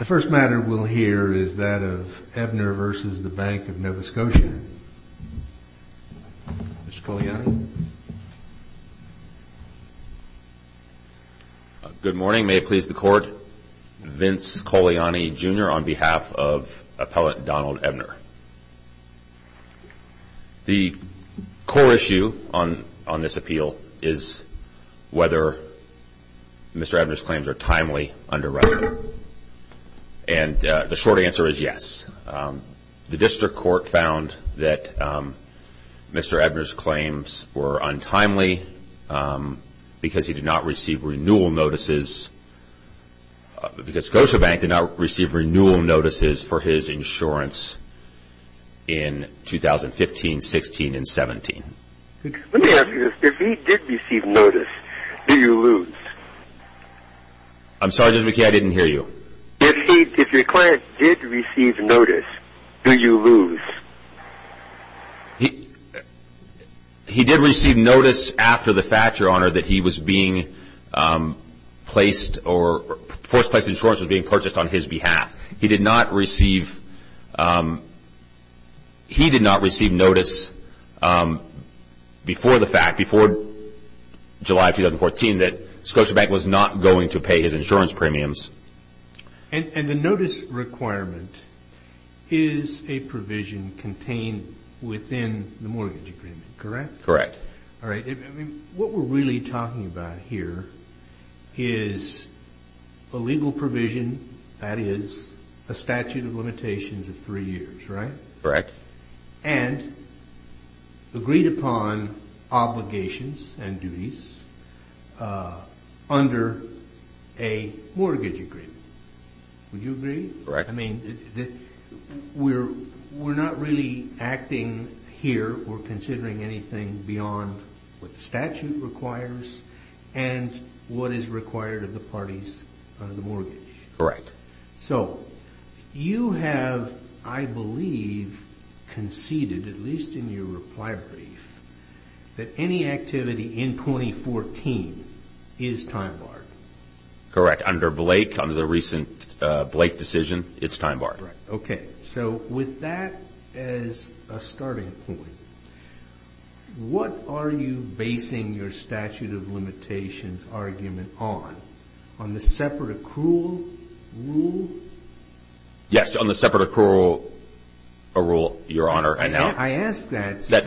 The first matter we'll hear is that of Ebner v. Bank of Nova Scotia. Mr. Cogliani. Good morning. May it please the court. Vince Cogliani Jr. on behalf of appellate Donald Ebner. The core issue on this appeal is whether Mr. Ebner's claims are timely under record. And the short answer is yes. The district court found that Mr. Ebner's claims were untimely because he did not receive renewal notices because Scotiabank did not receive renewal notices for his insurance in 2015, 16, and 17. Let me ask you this. If he did receive notice, do you lose? I'm sorry, Judge McKeon, I didn't hear you. If your client did receive notice, do you lose? He did receive notice after the fact, Your Honor, that he was being placed or first place insurance was being purchased on his behalf. He did not receive notice before the fact, before July 2014, that Scotiabank was not going to pay his insurance premiums. And the notice requirement is a provision contained within the mortgage agreement, correct? Correct. All right. What we're really talking about here is a legal provision that is a statute of limitations of three years, right? Correct. And agreed upon obligations and duties under a mortgage agreement. Would you agree? Correct. I mean, we're not really acting here or considering anything beyond what the statute requires and what is required of the parties under the mortgage. Correct. So, you have, I believe, conceded, at least in your reply brief, that any activity in 2014 is time barred. Correct. Under Blake, under the recent Blake decision, it's time barred. Okay. So, with that as a starting point, what are you basing your statute of limitations argument on, on the separate accrual rule? Yes, on the separate accrual rule, Your Honor, I know. I asked that. Set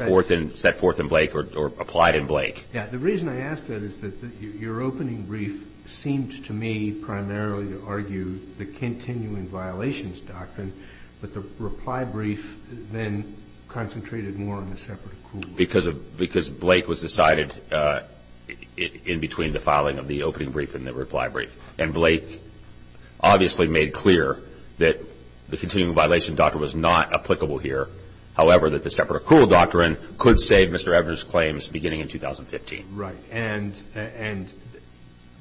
forth in Blake or applied in Blake. The reason I asked that is that your opening brief seemed to me primarily to argue the continuing violations doctrine, but the reply brief then concentrated more on the separate accrual rule. Because Blake was decided in between the filing of the opening brief and the reply brief. And Blake obviously made clear that the continuing violation doctrine was not applicable here. However, that the separate accrual doctrine could save Mr. Evers' claims beginning in 2015. Right. And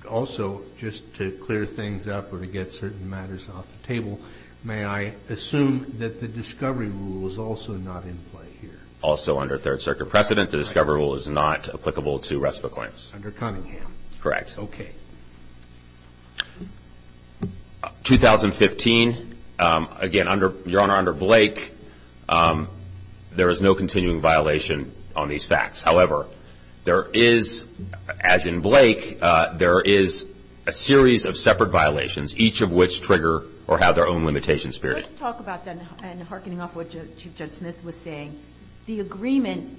also, just to clear things up or to get certain matters off the table, may I assume that the discovery rule is also not in play here? Also under Third Circuit precedent, the discovery rule is not applicable to rest of the claims. Under Cunningham. Correct. Okay. 2015, again, under, Your Honor, under Blake, there is no continuing violation on these facts. However, there is, as in Blake, there is a series of separate violations, each of which trigger or have their own limitations period. Let's talk about that and hearkening off what Chief Judge Smith was saying. The agreement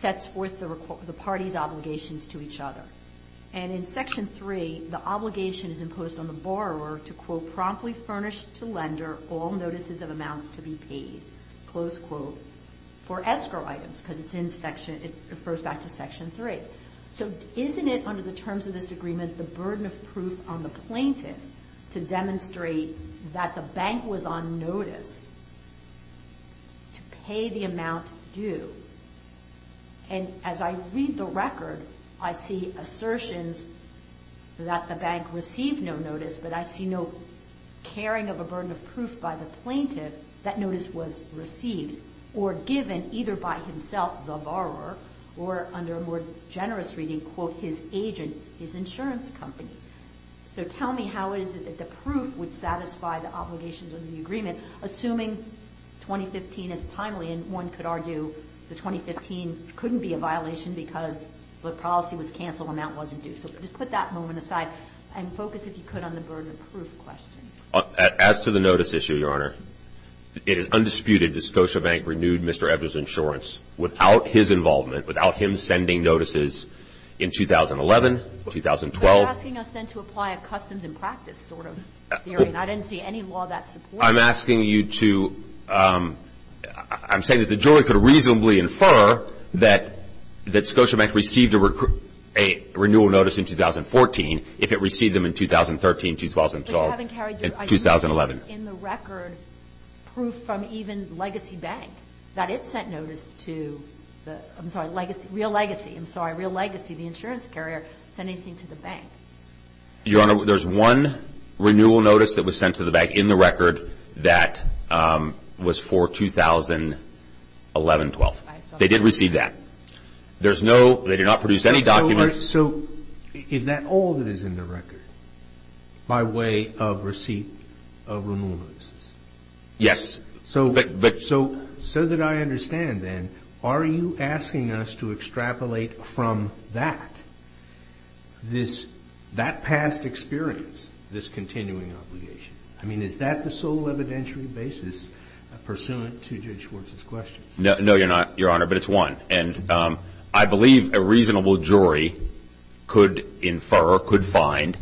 sets forth the parties' obligations to each other. And in Section 3, the obligation is imposed on the borrower to, quote, promptly furnish to lender all notices of amounts to be paid, close quote, for escrow items. Because it's in Section, it refers back to Section 3. So isn't it under the terms of this agreement the burden of proof on the plaintiff to demonstrate that the bank was on notice to pay the amount due? And as I read the record, I see assertions that the bank received no notice, but I see no caring of a burden of proof by the plaintiff that notice was received. Or given either by himself, the borrower, or under a more generous reading, quote, his agent, his insurance company. So tell me how is it that the proof would satisfy the obligations of the agreement, assuming 2015 is timely and one could argue that 2015 couldn't be a violation because the policy was canceled and that wasn't due. So just put that moment aside and focus, if you could, on the burden of proof question. As to the notice issue, Your Honor, it is undisputed that Scotiabank renewed Mr. Evers' insurance without his involvement, without him sending notices in 2011, 2012. You're asking us, then, to apply a customs and practice sort of theory, and I didn't see any law that supports that. I'm asking you to – I'm saying that the jury could reasonably infer that Scotiabank received a renewal notice in 2014 if it received them in 2013, 2012, and 2011. But you haven't carried – I didn't see in the record proof from even Legacy Bank that it sent notice to – I'm sorry, Real Legacy, I'm sorry, Real Legacy, the insurance carrier, sending things to the bank. Your Honor, there's one renewal notice that was sent to the bank in the record that was for 2011, 12. They did receive that. There's no – they did not produce any documents. So is that all that is in the record by way of receipt of renewal notices? Yes. So that I understand, then, are you asking us to extrapolate from that, that past experience, this continuing obligation? I mean, is that the sole evidentiary basis pursuant to Judge Schwartz's questions? No, Your Honor, but it's one. And I believe a reasonable jury could infer, could find,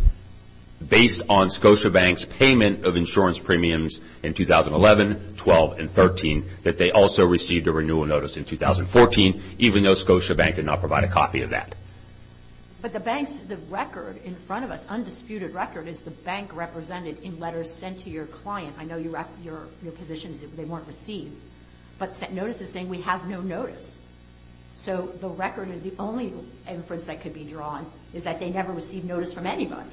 based on Scotiabank's payment of insurance premiums in 2011, 12, and 13, that they also received a renewal notice in 2014, even though Scotiabank did not provide a copy of that. But the bank's – the record in front of us, undisputed record, is the bank represented in letters sent to your client. I know your position is that they weren't received. But notices saying we have no notice. So the record, the only inference that could be drawn, is that they never received notice from anybody.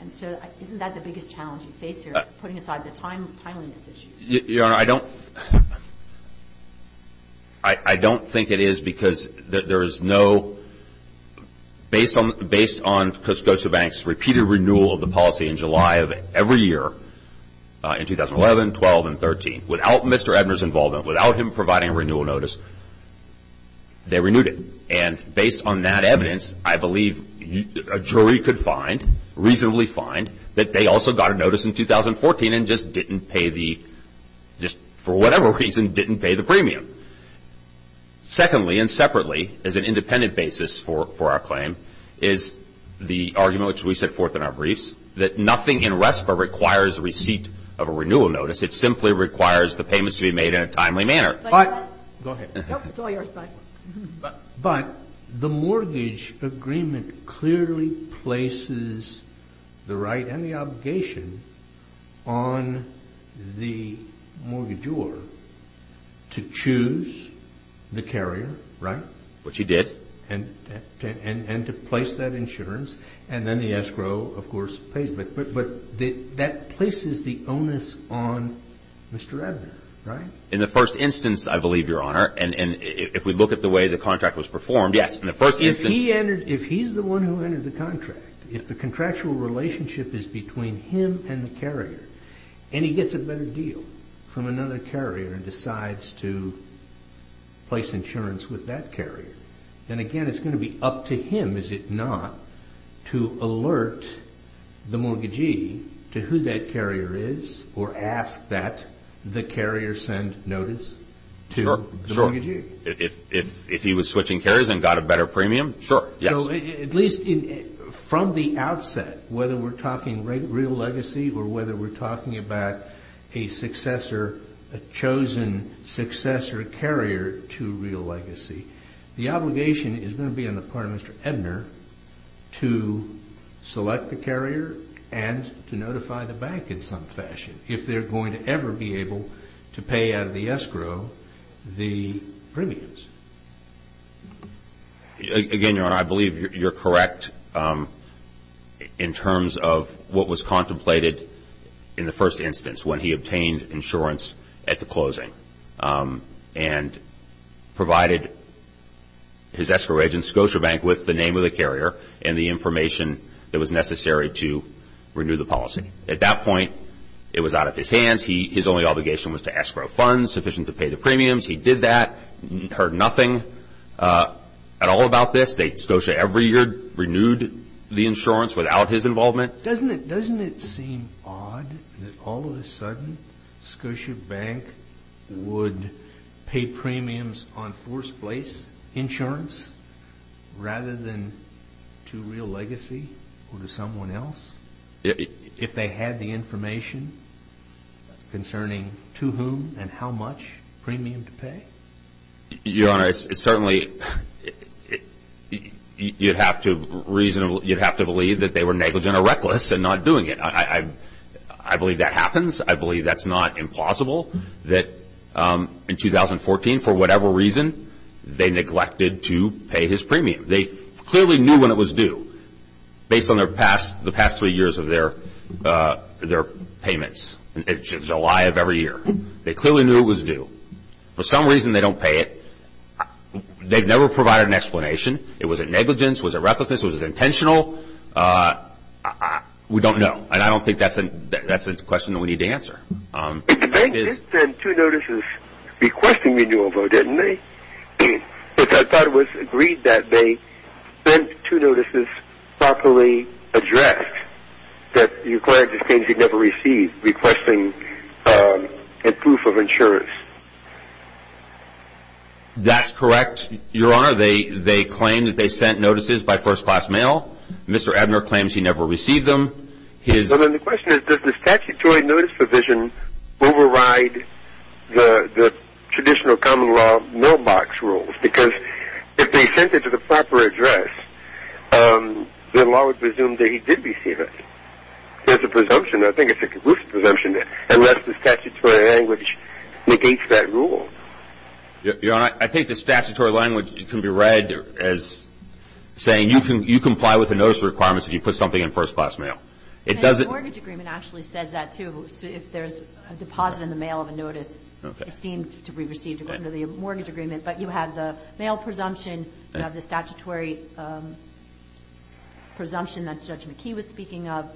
And so isn't that the biggest challenge you face here, putting aside the timeliness issues? Your Honor, I don't – I don't think it is because there is no – based on Scotiabank's repeated renewal of the policy in July of every year, in 2011, 12, and 13, without Mr. Ebner's involvement, without him providing a renewal notice, they renewed it. And based on that evidence, I believe a jury could find, reasonably find, that they also got a notice in 2014 and just didn't pay the – just for whatever reason, didn't pay the premium. Secondly, and separately, as an independent basis for our claim, is the argument which we set forth in our briefs, that nothing in RESPA requires receipt of a renewal notice. It simply requires the payments to be made in a timely manner. But – go ahead. Nope, it's all yours. Bye. But the mortgage agreement clearly places the right and the obligation on the mortgagor to choose the carrier, right? Which he did. And to place that insurance, and then the escrow, of course, pays. But that places the onus on Mr. Ebner, right? In the first instance, I believe, Your Honor, and if we look at the way the contract was performed, yes, in the first instance – If he's the one who entered the contract, if the contractual relationship is between him and the carrier, and he gets a better deal from another carrier and decides to place insurance with that carrier, then again, it's going to be up to him, is it not, to alert the mortgagee to who that carrier is or ask that the carrier send notice to the mortgagee? If he was switching carriers and got a better premium, sure, yes. So at least from the outset, whether we're talking real legacy or whether we're talking about a successor, a chosen successor carrier to real legacy, the obligation is going to be on the part of Mr. Ebner to select the carrier and to notify the bank in some fashion, if they're going to ever be able to pay out of the escrow the premiums. Again, Your Honor, I believe you're correct in terms of what was contemplated in the first instance and provided his escrow agent, Scotiabank, with the name of the carrier and the information that was necessary to renew the policy. At that point, it was out of his hands. His only obligation was to escrow funds sufficient to pay the premiums. He did that, heard nothing at all about this. Scotiabank every year renewed the insurance without his involvement. Doesn't it seem odd that all of a sudden Scotiabank would pay premiums on forced place insurance rather than to real legacy or to someone else? If they had the information concerning to whom and how much premium to pay? Your Honor, certainly you'd have to believe that they were negligent or reckless in not doing it. I believe that happens. I believe that's not impossible that in 2014, for whatever reason, they neglected to pay his premium. They clearly knew when it was due based on the past three years of their payments, July of every year. They clearly knew it was due. For some reason, they don't pay it. They've never provided an explanation. Was it negligence? Was it recklessness? Was it intentional? We don't know. I don't think that's a question we need to answer. They did send two notices requesting renewal, though, didn't they? I thought it was agreed that they sent two notices properly addressed that the client just claims he never received, requesting a proof of insurance. That's correct, Your Honor. They claim that they sent notices by first-class mail. Mr. Abner claims he never received them. The question is, does the statutory notice provision override the traditional common law mailbox rules? Because if they sent it to the proper address, the law would presume that he did receive it. There's a presumption. I think it's a conclusive presumption, unless the statutory language negates that rule. Your Honor, I think the statutory language can be read as saying you comply with the notice requirements if you put something in first-class mail. The mortgage agreement actually says that, too. If there's a deposit in the mail of a notice, it's deemed to be received under the mortgage agreement, but you have the mail presumption, you have the statutory presumption that Judge McKee was speaking of.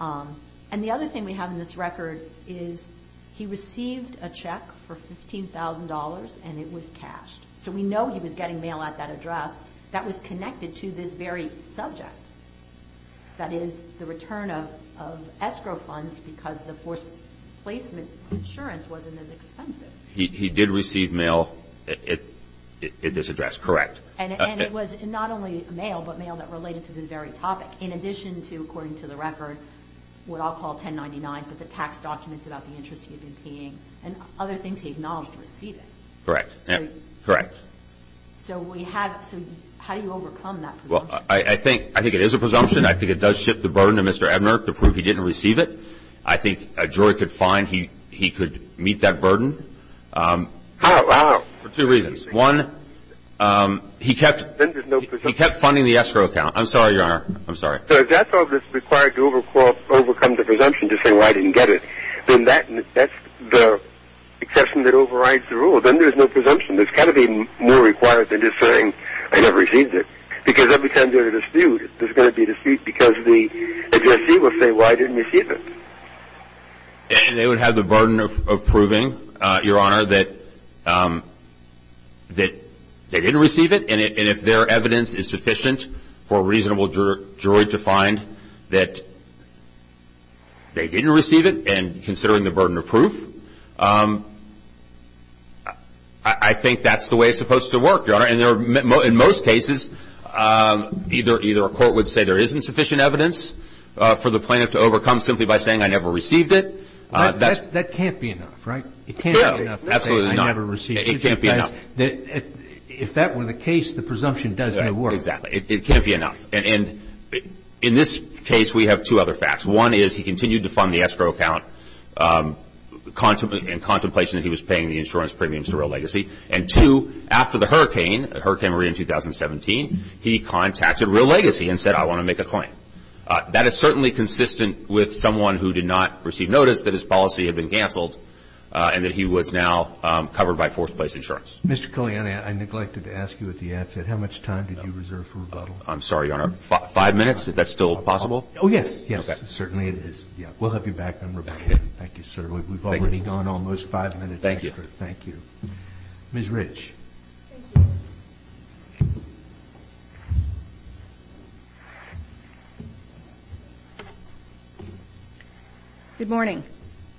And the other thing we have in this record is he received a check for $15,000, and it was cashed. So we know he was getting mail at that address. That was connected to this very subject, that is, the return of escrow funds because the forced placement of insurance wasn't as expensive. He did receive mail at this address, correct. And it was not only mail, but mail that related to this very topic, in addition to, according to the record, what I'll call 1099s, but the tax documents about the interest he had been paying and other things he acknowledged receiving. Correct. Correct. So we have to – how do you overcome that presumption? Well, I think it is a presumption. I think it does shift the burden to Mr. Ebner to prove he didn't receive it. I think a jury could find he could meet that burden. How? For two reasons. One, he kept funding the escrow account. I'm sorry, Your Honor. I'm sorry. So if that's all that's required to overcome the presumption to say, well, I didn't get it, then that's the exception that overrides the rule. Then there's no presumption. There's got to be more required than just saying, I never received it. Because every time there's a dispute, there's going to be a dispute because the agency will say, why didn't you receive it? And they would have the burden of proving, Your Honor, that they didn't receive it. And if their evidence is sufficient for a reasonable jury to find that they didn't receive it and considering the burden of proof, I think that's the way it's supposed to work, Your Honor. In most cases, either a court would say there isn't sufficient evidence for the plaintiff to overcome simply by saying, I never received it. That can't be enough, right? It can't be enough to say, I never received it. It can't be enough. If that were the case, the presumption doesn't work. Exactly. It can't be enough. And in this case, we have two other facts. One is he continued to fund the escrow account in contemplation that he was paying the insurance premiums to Real Legacy. And two, after the hurricane, Hurricane Maria in 2017, he contacted Real Legacy and said, I want to make a claim. That is certainly consistent with someone who did not receive notice that his policy had been canceled and that he was now covered by forced place insurance. Mr. Culliane, I neglected to ask you at the outset, how much time did you reserve for rebuttal? I'm sorry, Your Honor. Five minutes? Is that still possible? Oh, yes. Yes, certainly it is. We'll have you back on rebuttal. Thank you, sir. We've already gone almost five minutes extra. Thank you. Ms. Rich. Thank you. Good morning.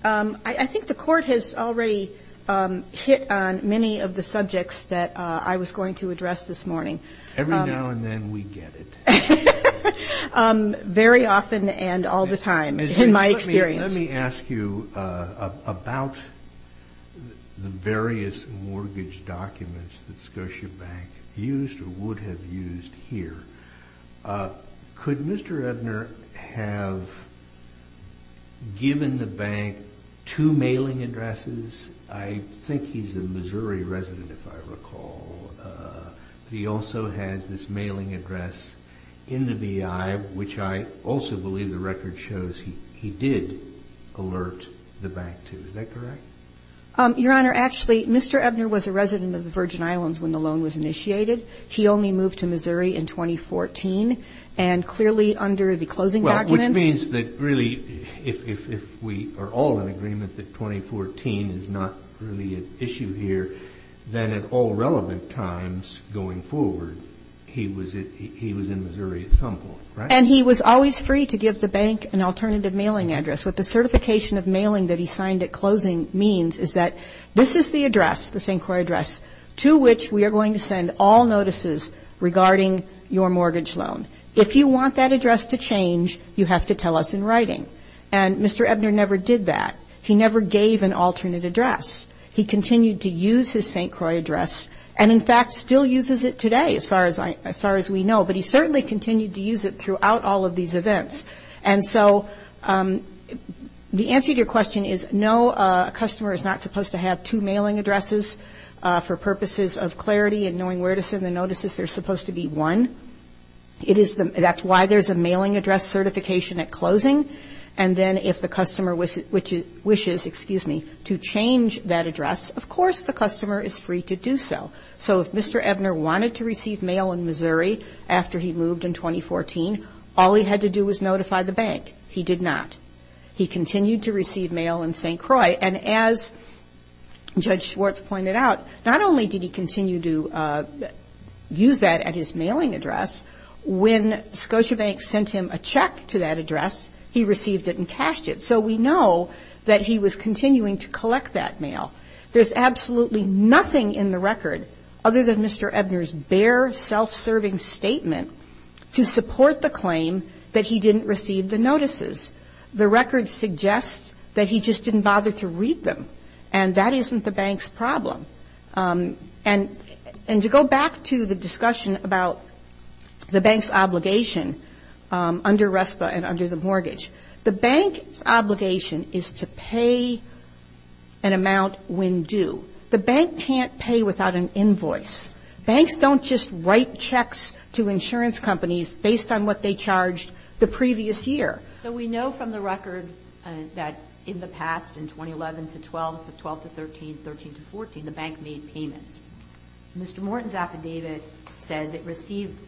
I think the Court has already hit on many of the subjects that I was going to address this morning. Every now and then, we get it. Very often and all the time, in my experience. Let me ask you about the various mortgage documents that Scotia Bank used or would have used here. Could Mr. Edner have given the bank two mailing addresses? I think he's a Missouri resident, if I recall. He also has this mailing address in the BI, which I also believe the record shows he did alert the bank to. Is that correct? Your Honor, actually, Mr. Edner was a resident of the Virgin Islands when the loan was initiated. He only moved to Missouri in 2014. And clearly, under the closing documents ---- that 2014 is not really an issue here, then at all relevant times going forward, he was in Missouri at some point, right? And he was always free to give the bank an alternative mailing address. What the certification of mailing that he signed at closing means is that this is the address, this inquiry address, to which we are going to send all notices regarding your mortgage loan. If you want that address to change, you have to tell us in writing. And Mr. Edner never did that. He never gave an alternate address. He continued to use his St. Croix address and, in fact, still uses it today, as far as we know. But he certainly continued to use it throughout all of these events. And so the answer to your question is no, a customer is not supposed to have two mailing addresses for purposes of clarity and knowing where to send the notices. There's supposed to be one. That's why there's a mailing address certification at closing. And then if the customer wishes, excuse me, to change that address, of course the customer is free to do so. So if Mr. Edner wanted to receive mail in Missouri after he moved in 2014, all he had to do was notify the bank. He did not. He continued to receive mail in St. Croix. And as Judge Schwartz pointed out, not only did he continue to use that at his mailing address, when Scotiabank sent him a check to that address, he received it and cashed it. So we know that he was continuing to collect that mail. There's absolutely nothing in the record, other than Mr. Edner's bare self-serving statement, to support the claim that he didn't receive the notices. The record suggests that he just didn't bother to read them. And that isn't the bank's problem. And to go back to the discussion about the bank's obligation under RESPA and under the mortgage, the bank's obligation is to pay an amount when due. The bank can't pay without an invoice. Banks don't just write checks to insurance companies based on what they charged the previous year. So we know from the record that in the past, in 2011 to 12, 12 to 13, 13 to 14, the bank made payments. Mr. Morton's affidavit says it received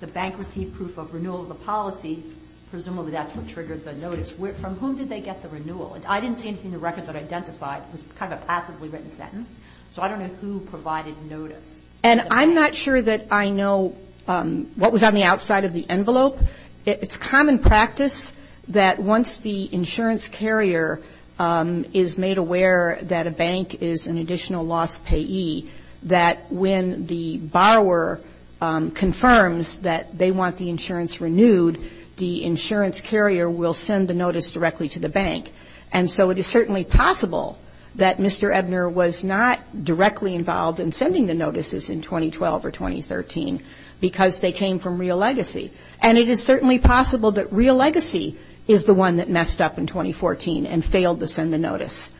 the bank received proof of renewal of the policy. Presumably that's what triggered the notice. From whom did they get the renewal? I didn't see anything in the record that identified. It was kind of a passively written sentence. So I don't know who provided notice. And I'm not sure that I know what was on the outside of the envelope. It's common practice that once the insurance carrier is made aware that a bank is an additional loss payee, that when the borrower confirms that they want the insurance renewed, the insurance carrier will send the notice directly to the bank. And so it is certainly possible that Mr. Ebner was not directly involved in sending the notices in 2012 or 2013 because they came from Real Legacy. And it is certainly possible that Real Legacy is the one that messed up in 2014 and failed to send the notice.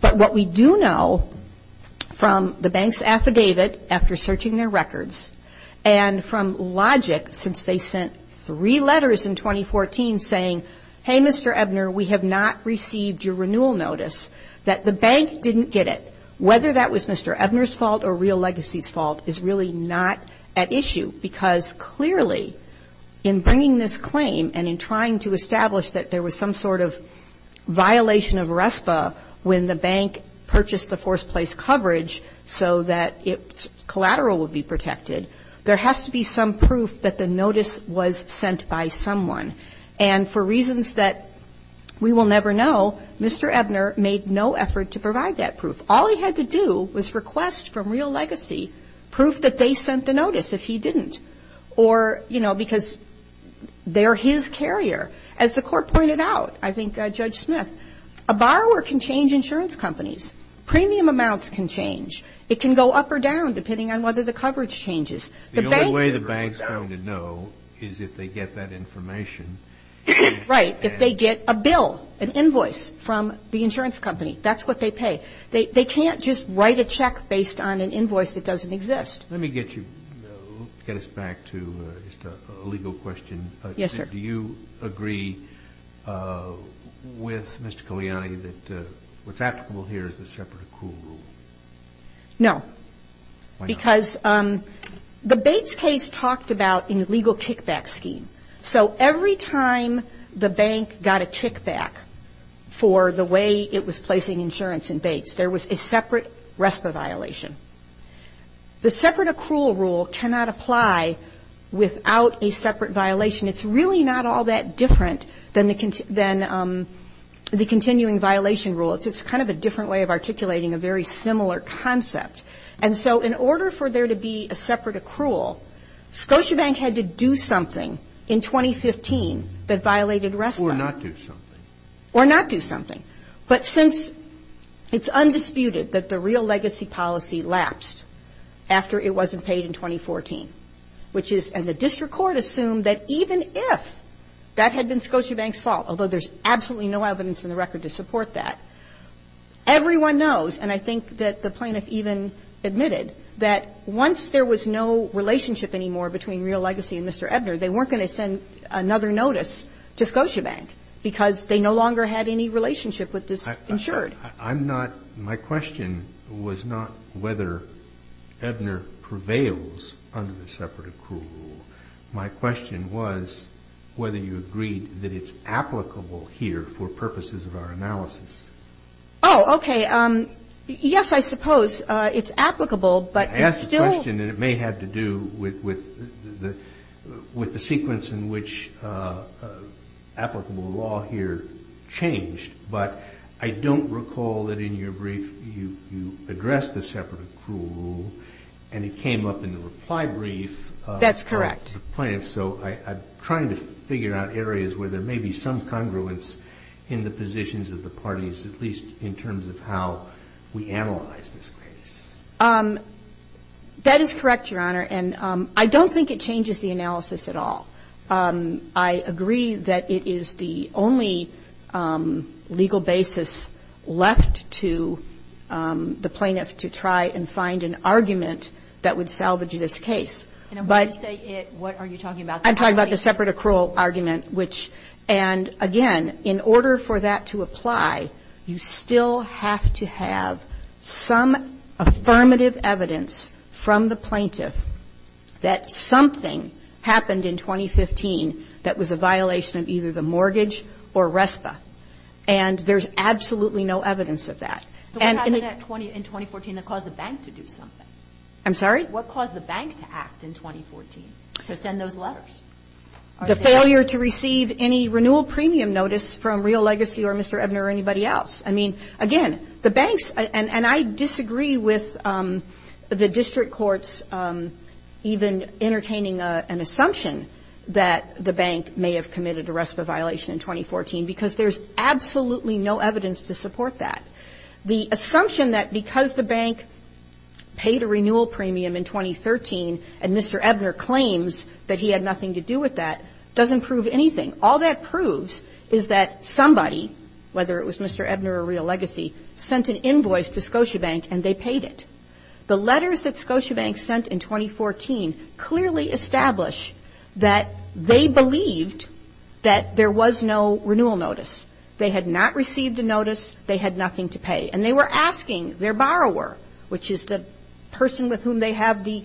But what we do know from the bank's affidavit after searching their records and from logic since they sent three letters in 2014 saying, hey, Mr. Ebner, we have not received your renewal notice, that the bank didn't get it. Whether that was Mr. Ebner's fault or Real Legacy's fault is really not at issue because clearly in bringing this claim and in trying to establish that there was some sort of violation of RESPA when the bank purchased the forced place coverage so that its collateral would be protected, there has to be some proof that the notice was sent by someone. And for reasons that we will never know, Mr. Ebner made no effort to provide that proof. All he had to do was request from Real Legacy proof that they sent the notice if he didn't. Or, you know, because they're his carrier. As the court pointed out, I think Judge Smith, a borrower can change insurance companies. Premium amounts can change. It can go up or down depending on whether the coverage changes. The only way the bank is going to know is if they get that information. Right. If they get a bill, an invoice from the insurance company. That's what they pay. They can't just write a check based on an invoice that doesn't exist. Let me get you to get us back to a legal question. Yes, sir. Do you agree with Mr. Coliani that what's applicable here is a separate accrual rule? No. Why not? Because the Bates case talked about an illegal kickback scheme. So every time the bank got a kickback for the way it was placing insurance in Bates, there was a separate RESPA violation. The separate accrual rule cannot apply without a separate violation. It's really not all that different than the continuing violation rule. It's just kind of a different way of articulating a very similar concept. And so in order for there to be a separate accrual, Scotiabank had to do something in 2015 that violated RESPA. Or not do something. Or not do something. But since it's undisputed that the real legacy policy lapsed after it wasn't paid in 2014, and the district court assumed that even if that had been Scotiabank's fault, although there's absolutely no evidence in the record to support that, everyone knows, and I think that the plaintiff even admitted, that once there was no relationship anymore between real legacy and Mr. Ebner, they weren't going to send another notice to Scotiabank, because they no longer had any relationship with this insured. I'm not my question was not whether Ebner prevails under the separate accrual rule. My question was whether you agreed that it's applicable here for purposes of our analysis. Oh, okay. Yes, I suppose it's applicable, but it's still. I asked the question, and it may have to do with the sequence in which applicable law here changed. But I don't recall that in your brief you addressed the separate accrual rule, and it came up in the reply brief. That's correct. So I'm trying to figure out areas where there may be some congruence in the positions of the parties, at least in terms of how we analyze this case. That is correct, Your Honor. And I don't think it changes the analysis at all. I agree that it is the only legal basis left to the plaintiff to try and find an argument that would salvage this case. And when you say it, what are you talking about? I'm talking about the separate accrual argument, which, and again, in order for that to apply, you still have to have some affirmative evidence from the plaintiff that something happened in 2015 that was a violation of either the mortgage or RESPA. And there's absolutely no evidence of that. So what happened in 2014 that caused the bank to do something? I'm sorry? What caused the bank to act in 2014 to send those letters? The failure to receive any renewal premium notice from Real Legacy or Mr. Ebner or anybody else. I mean, again, the banks, and I disagree with the district courts even entertaining an assumption that the bank may have committed a RESPA violation in 2014 because there's absolutely no evidence to support that. The assumption that because the bank paid a renewal premium in 2013 and Mr. Ebner claims that he had nothing to do with that doesn't prove anything. All that proves is that somebody, whether it was Mr. Ebner or Real Legacy, sent an invoice to Scotiabank and they paid it. The letters that Scotiabank sent in 2014 clearly establish that they believed that there was no renewal notice. They had not received a notice. They had nothing to pay. And they were asking their borrower, which is the person with whom they have the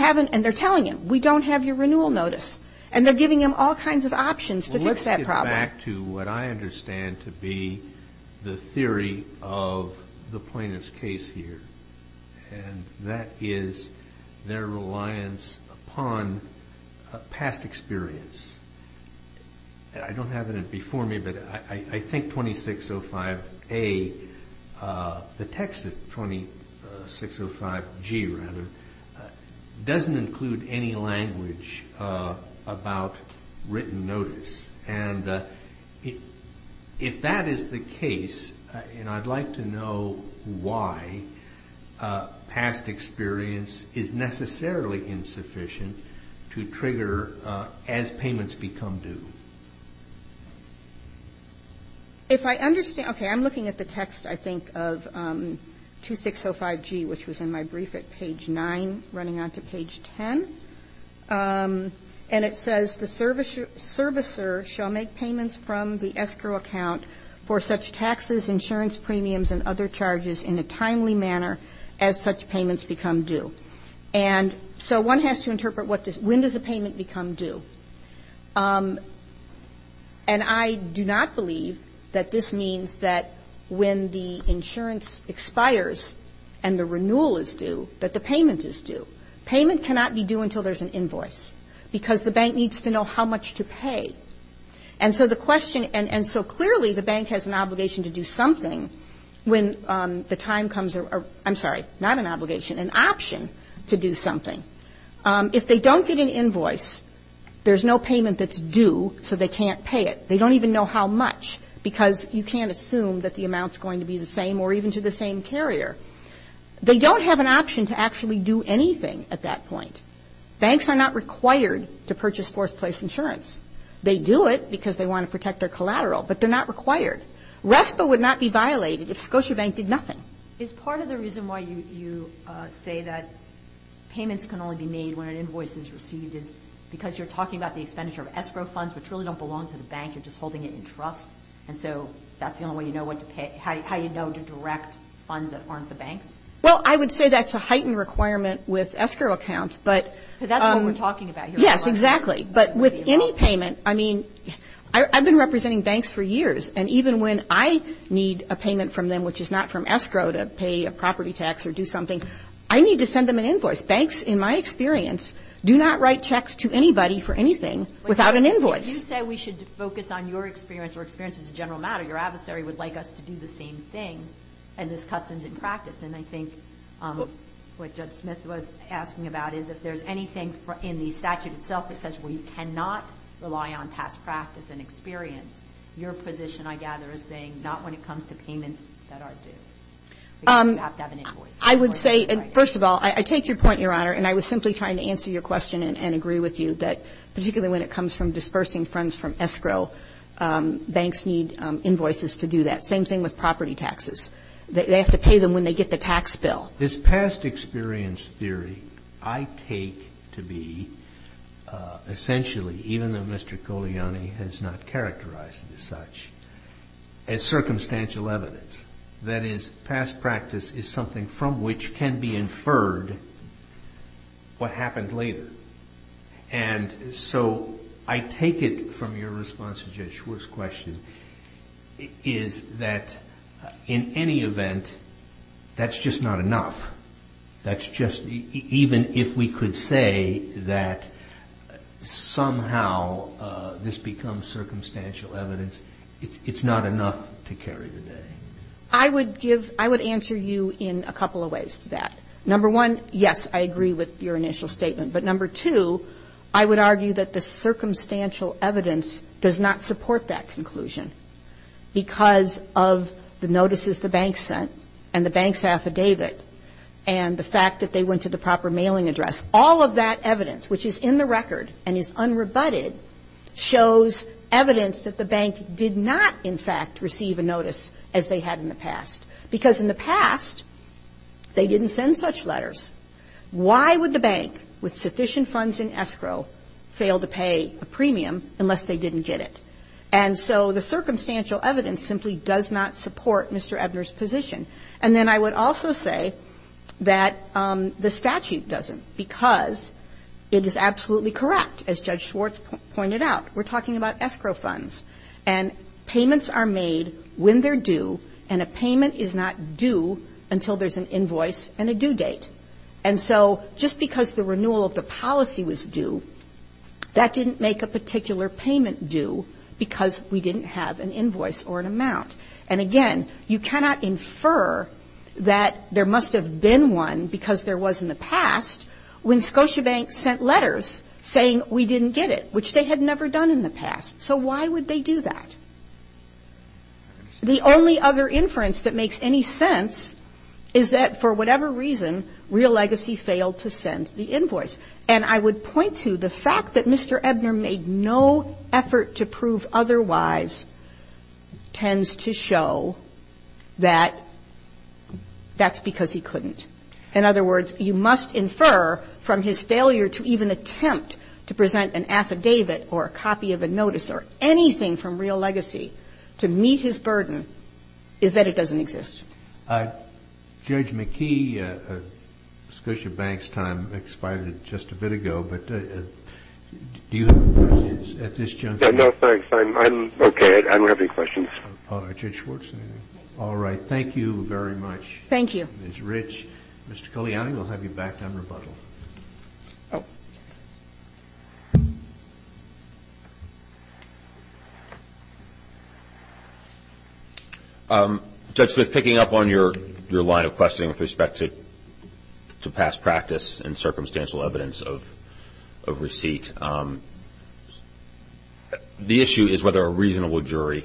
And they're telling him, we don't have your renewal notice. And they're giving him all kinds of options to fix that problem. Well, let's get back to what I understand to be the theory of the plaintiff's case here, and that is their reliance upon past experience. I don't have it before me, but I think 2605A, the text of 2605G, rather, doesn't include any language about written notice. And if that is the case, and I'd like to know why past experience is necessarily insufficient to trigger as payments become due. If I understand, okay, I'm looking at the text, I think, of 2605G, which was in my brief at page 9, running on to page 10. And it says, the servicer shall make payments from the escrow account for such taxes, insurance premiums, and other charges in a timely manner as such payments become due. And so one has to interpret when does a payment become due. And I do not believe that this means that when the insurance expires and the renewal is due, that the payment is due. Payment cannot be due until there's an invoice, because the bank needs to know how much to pay. And so the question ‑‑ and so clearly the bank has an obligation to do something when the time comes or, I'm sorry, not an obligation, an option to do something. If they don't get an invoice, there's no payment that's due, so they can't pay it. They don't even know how much, because you can't assume that the amount's going to be the same or even to the same carrier. They don't have an option to actually do anything at that point. Banks are not required to purchase fourth place insurance. They do it because they want to protect their collateral, but they're not required. RESPA would not be violated if Scotiabank did nothing. Is part of the reason why you say that payments can only be made when an invoice is received is because you're talking about the expenditure of escrow funds, which really don't belong to the bank. You're just holding it in trust. And so that's the only way you know how you know to direct funds that aren't the bank's? Well, I would say that's a heightened requirement with escrow accounts. Because that's what we're talking about here. Yes, exactly. But with any payment, I mean, I've been representing banks for years, and even when I need a payment from them, which is not from escrow to pay a property tax or do something, I need to send them an invoice. Banks, in my experience, do not write checks to anybody for anything without an invoice. If you say we should focus on your experience or experiences as a general matter, your adversary would like us to do the same thing, and this custom's in practice. And I think what Judge Smith was asking about is if there's anything in the statute itself that says we cannot rely on past practice and experience, your position, I gather, is saying not when it comes to payments that are due. Because you have to have an invoice. I would say, first of all, I take your point, Your Honor, and I was simply trying to answer your question and agree with you, that particularly when it comes from dispersing funds from escrow, banks need invoices to do that. Same thing with property taxes. They have to pay them when they get the tax bill. This past experience theory I take to be essentially, even though Mr. Coliani has not characterized it as such, as circumstantial evidence. That is, past practice is something from which can be inferred what happened later. And so I take it from your response to Judge Schwartz's question is that in any event, that's just not enough. That's just, even if we could say that somehow this becomes circumstantial evidence, it's not enough to carry the day. I would give, I would answer you in a couple of ways to that. Number one, yes, I agree with your initial statement. But number two, I would argue that the circumstantial evidence does not support that conclusion because of the notices the bank sent and the bank's affidavit and the fact that they went to the proper mailing address. All of that evidence, which is in the record and is unrebutted, shows evidence that the bank did not, in fact, receive a notice as they had in the past. Because in the past, they didn't send such letters. Why would the bank, with sufficient funds in escrow, fail to pay a premium unless they didn't get it? And so the circumstantial evidence simply does not support Mr. Ebner's position. And then I would also say that the statute doesn't because it is absolutely correct, as Judge Schwartz pointed out. We're talking about escrow funds. And payments are made when they're due, and a payment is not due until there's an invoice and a due date. And so just because the renewal of the policy was due, that didn't make a particular payment due because we didn't have an invoice or an amount. And again, you cannot infer that there must have been one because there was in the past when Scotiabank sent letters saying we didn't get it, which they had never done in the past. So why would they do that? The only other inference that makes any sense is that for whatever reason, Real Legacy failed to send the invoice. And I would point to the fact that Mr. Ebner made no effort to prove otherwise tends to show that that's because he couldn't. In other words, you must infer from his failure to even attempt to present an affidavit or a copy of a notice or anything from Real Legacy to meet his burden is that it doesn't exist. Judge McKee, Scotiabank's time expired just a bit ago, but do you have any questions at this juncture? No, thanks. I'm okay. I don't have any questions. Judge Schwartz? All right. Thank you very much. Thank you. Ms. Rich. Mr. Cogliani, we'll have you back on rebuttal. Oh. Judge, picking up on your line of questioning with respect to past practice and circumstantial evidence of receipt, the issue is whether a reasonable jury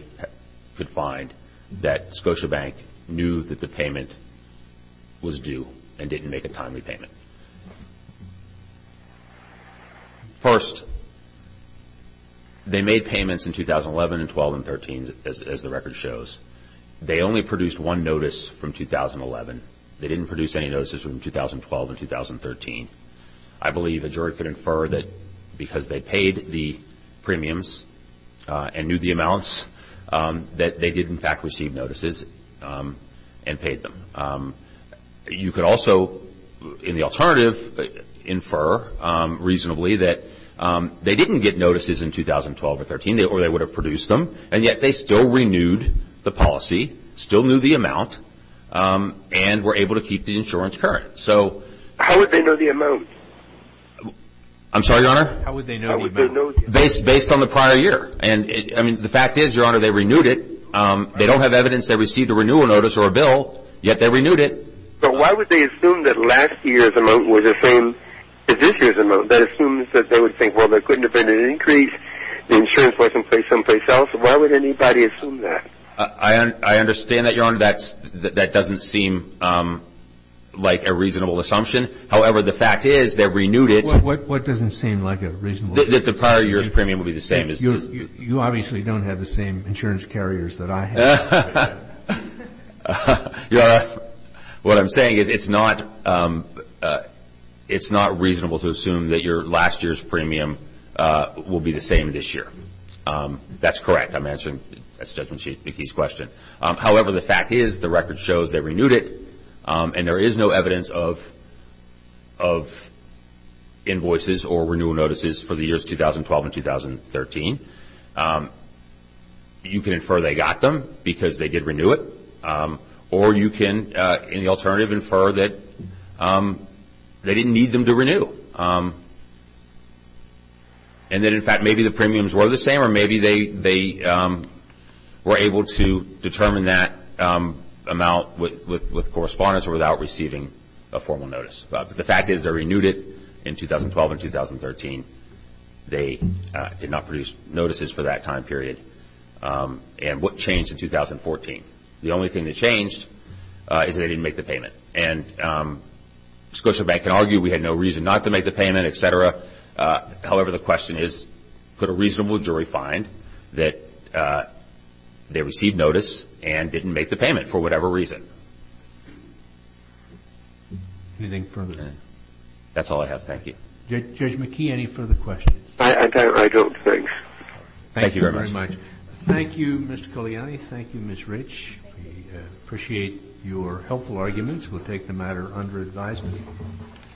could find that Scotiabank knew that the payment was due and didn't make a timely payment. First, they made payments in 2011 and 12 and 13 as the record shows. They only produced one notice from 2011. They didn't produce any notices from 2012 and 2013. I believe a jury could infer that because they paid the premiums and knew the amounts that they did, in fact, receive notices and paid them. You could also, in the alternative, infer reasonably that they didn't get notices in 2012 or 13 or they would have produced them, and yet they still renewed the policy, still knew the amount, and were able to keep the insurance current. So how would they know the amount? I'm sorry, Your Honor? How would they know the amount? Based on the prior year. The fact is, Your Honor, they renewed it. They don't have evidence they received a renewal notice or a bill, yet they renewed it. But why would they assume that last year's amount was the same as this year's amount? That assumes that they would think, well, there could have been an increase. The insurance wasn't paid someplace else. Why would anybody assume that? I understand that, Your Honor. That doesn't seem like a reasonable assumption. What doesn't seem like a reasonable assumption? That the prior year's premium would be the same as this. You obviously don't have the same insurance carriers that I have. What I'm saying is it's not reasonable to assume that your last year's premium will be the same this year. That's correct. I'm answering Judge McKee's question. However, the fact is, the record shows they renewed it, and there is no evidence of invoices or renewal notices for the years 2012 and 2013. You can infer they got them because they did renew it. Or you can, in the alternative, infer that they didn't need them to renew. And that, in fact, maybe the premiums were the same or maybe they were able to determine that amount with correspondence or without receiving a formal notice. But the fact is they renewed it in 2012 and 2013. They did not produce notices for that time period. And what changed in 2014? The only thing that changed is they didn't make the payment. And Scotiabank can argue we had no reason not to make the payment, et cetera. However, the question is, could a reasonable jury find that they received notice and didn't make the payment for whatever reason? Anything further? That's all I have. Thank you. Judge McKee, any further questions? I don't think so. Thank you very much. Thank you, Mr. Cogliani. Thank you, Ms. Rich. We appreciate your helpful arguments. We'll take the matter under advisement.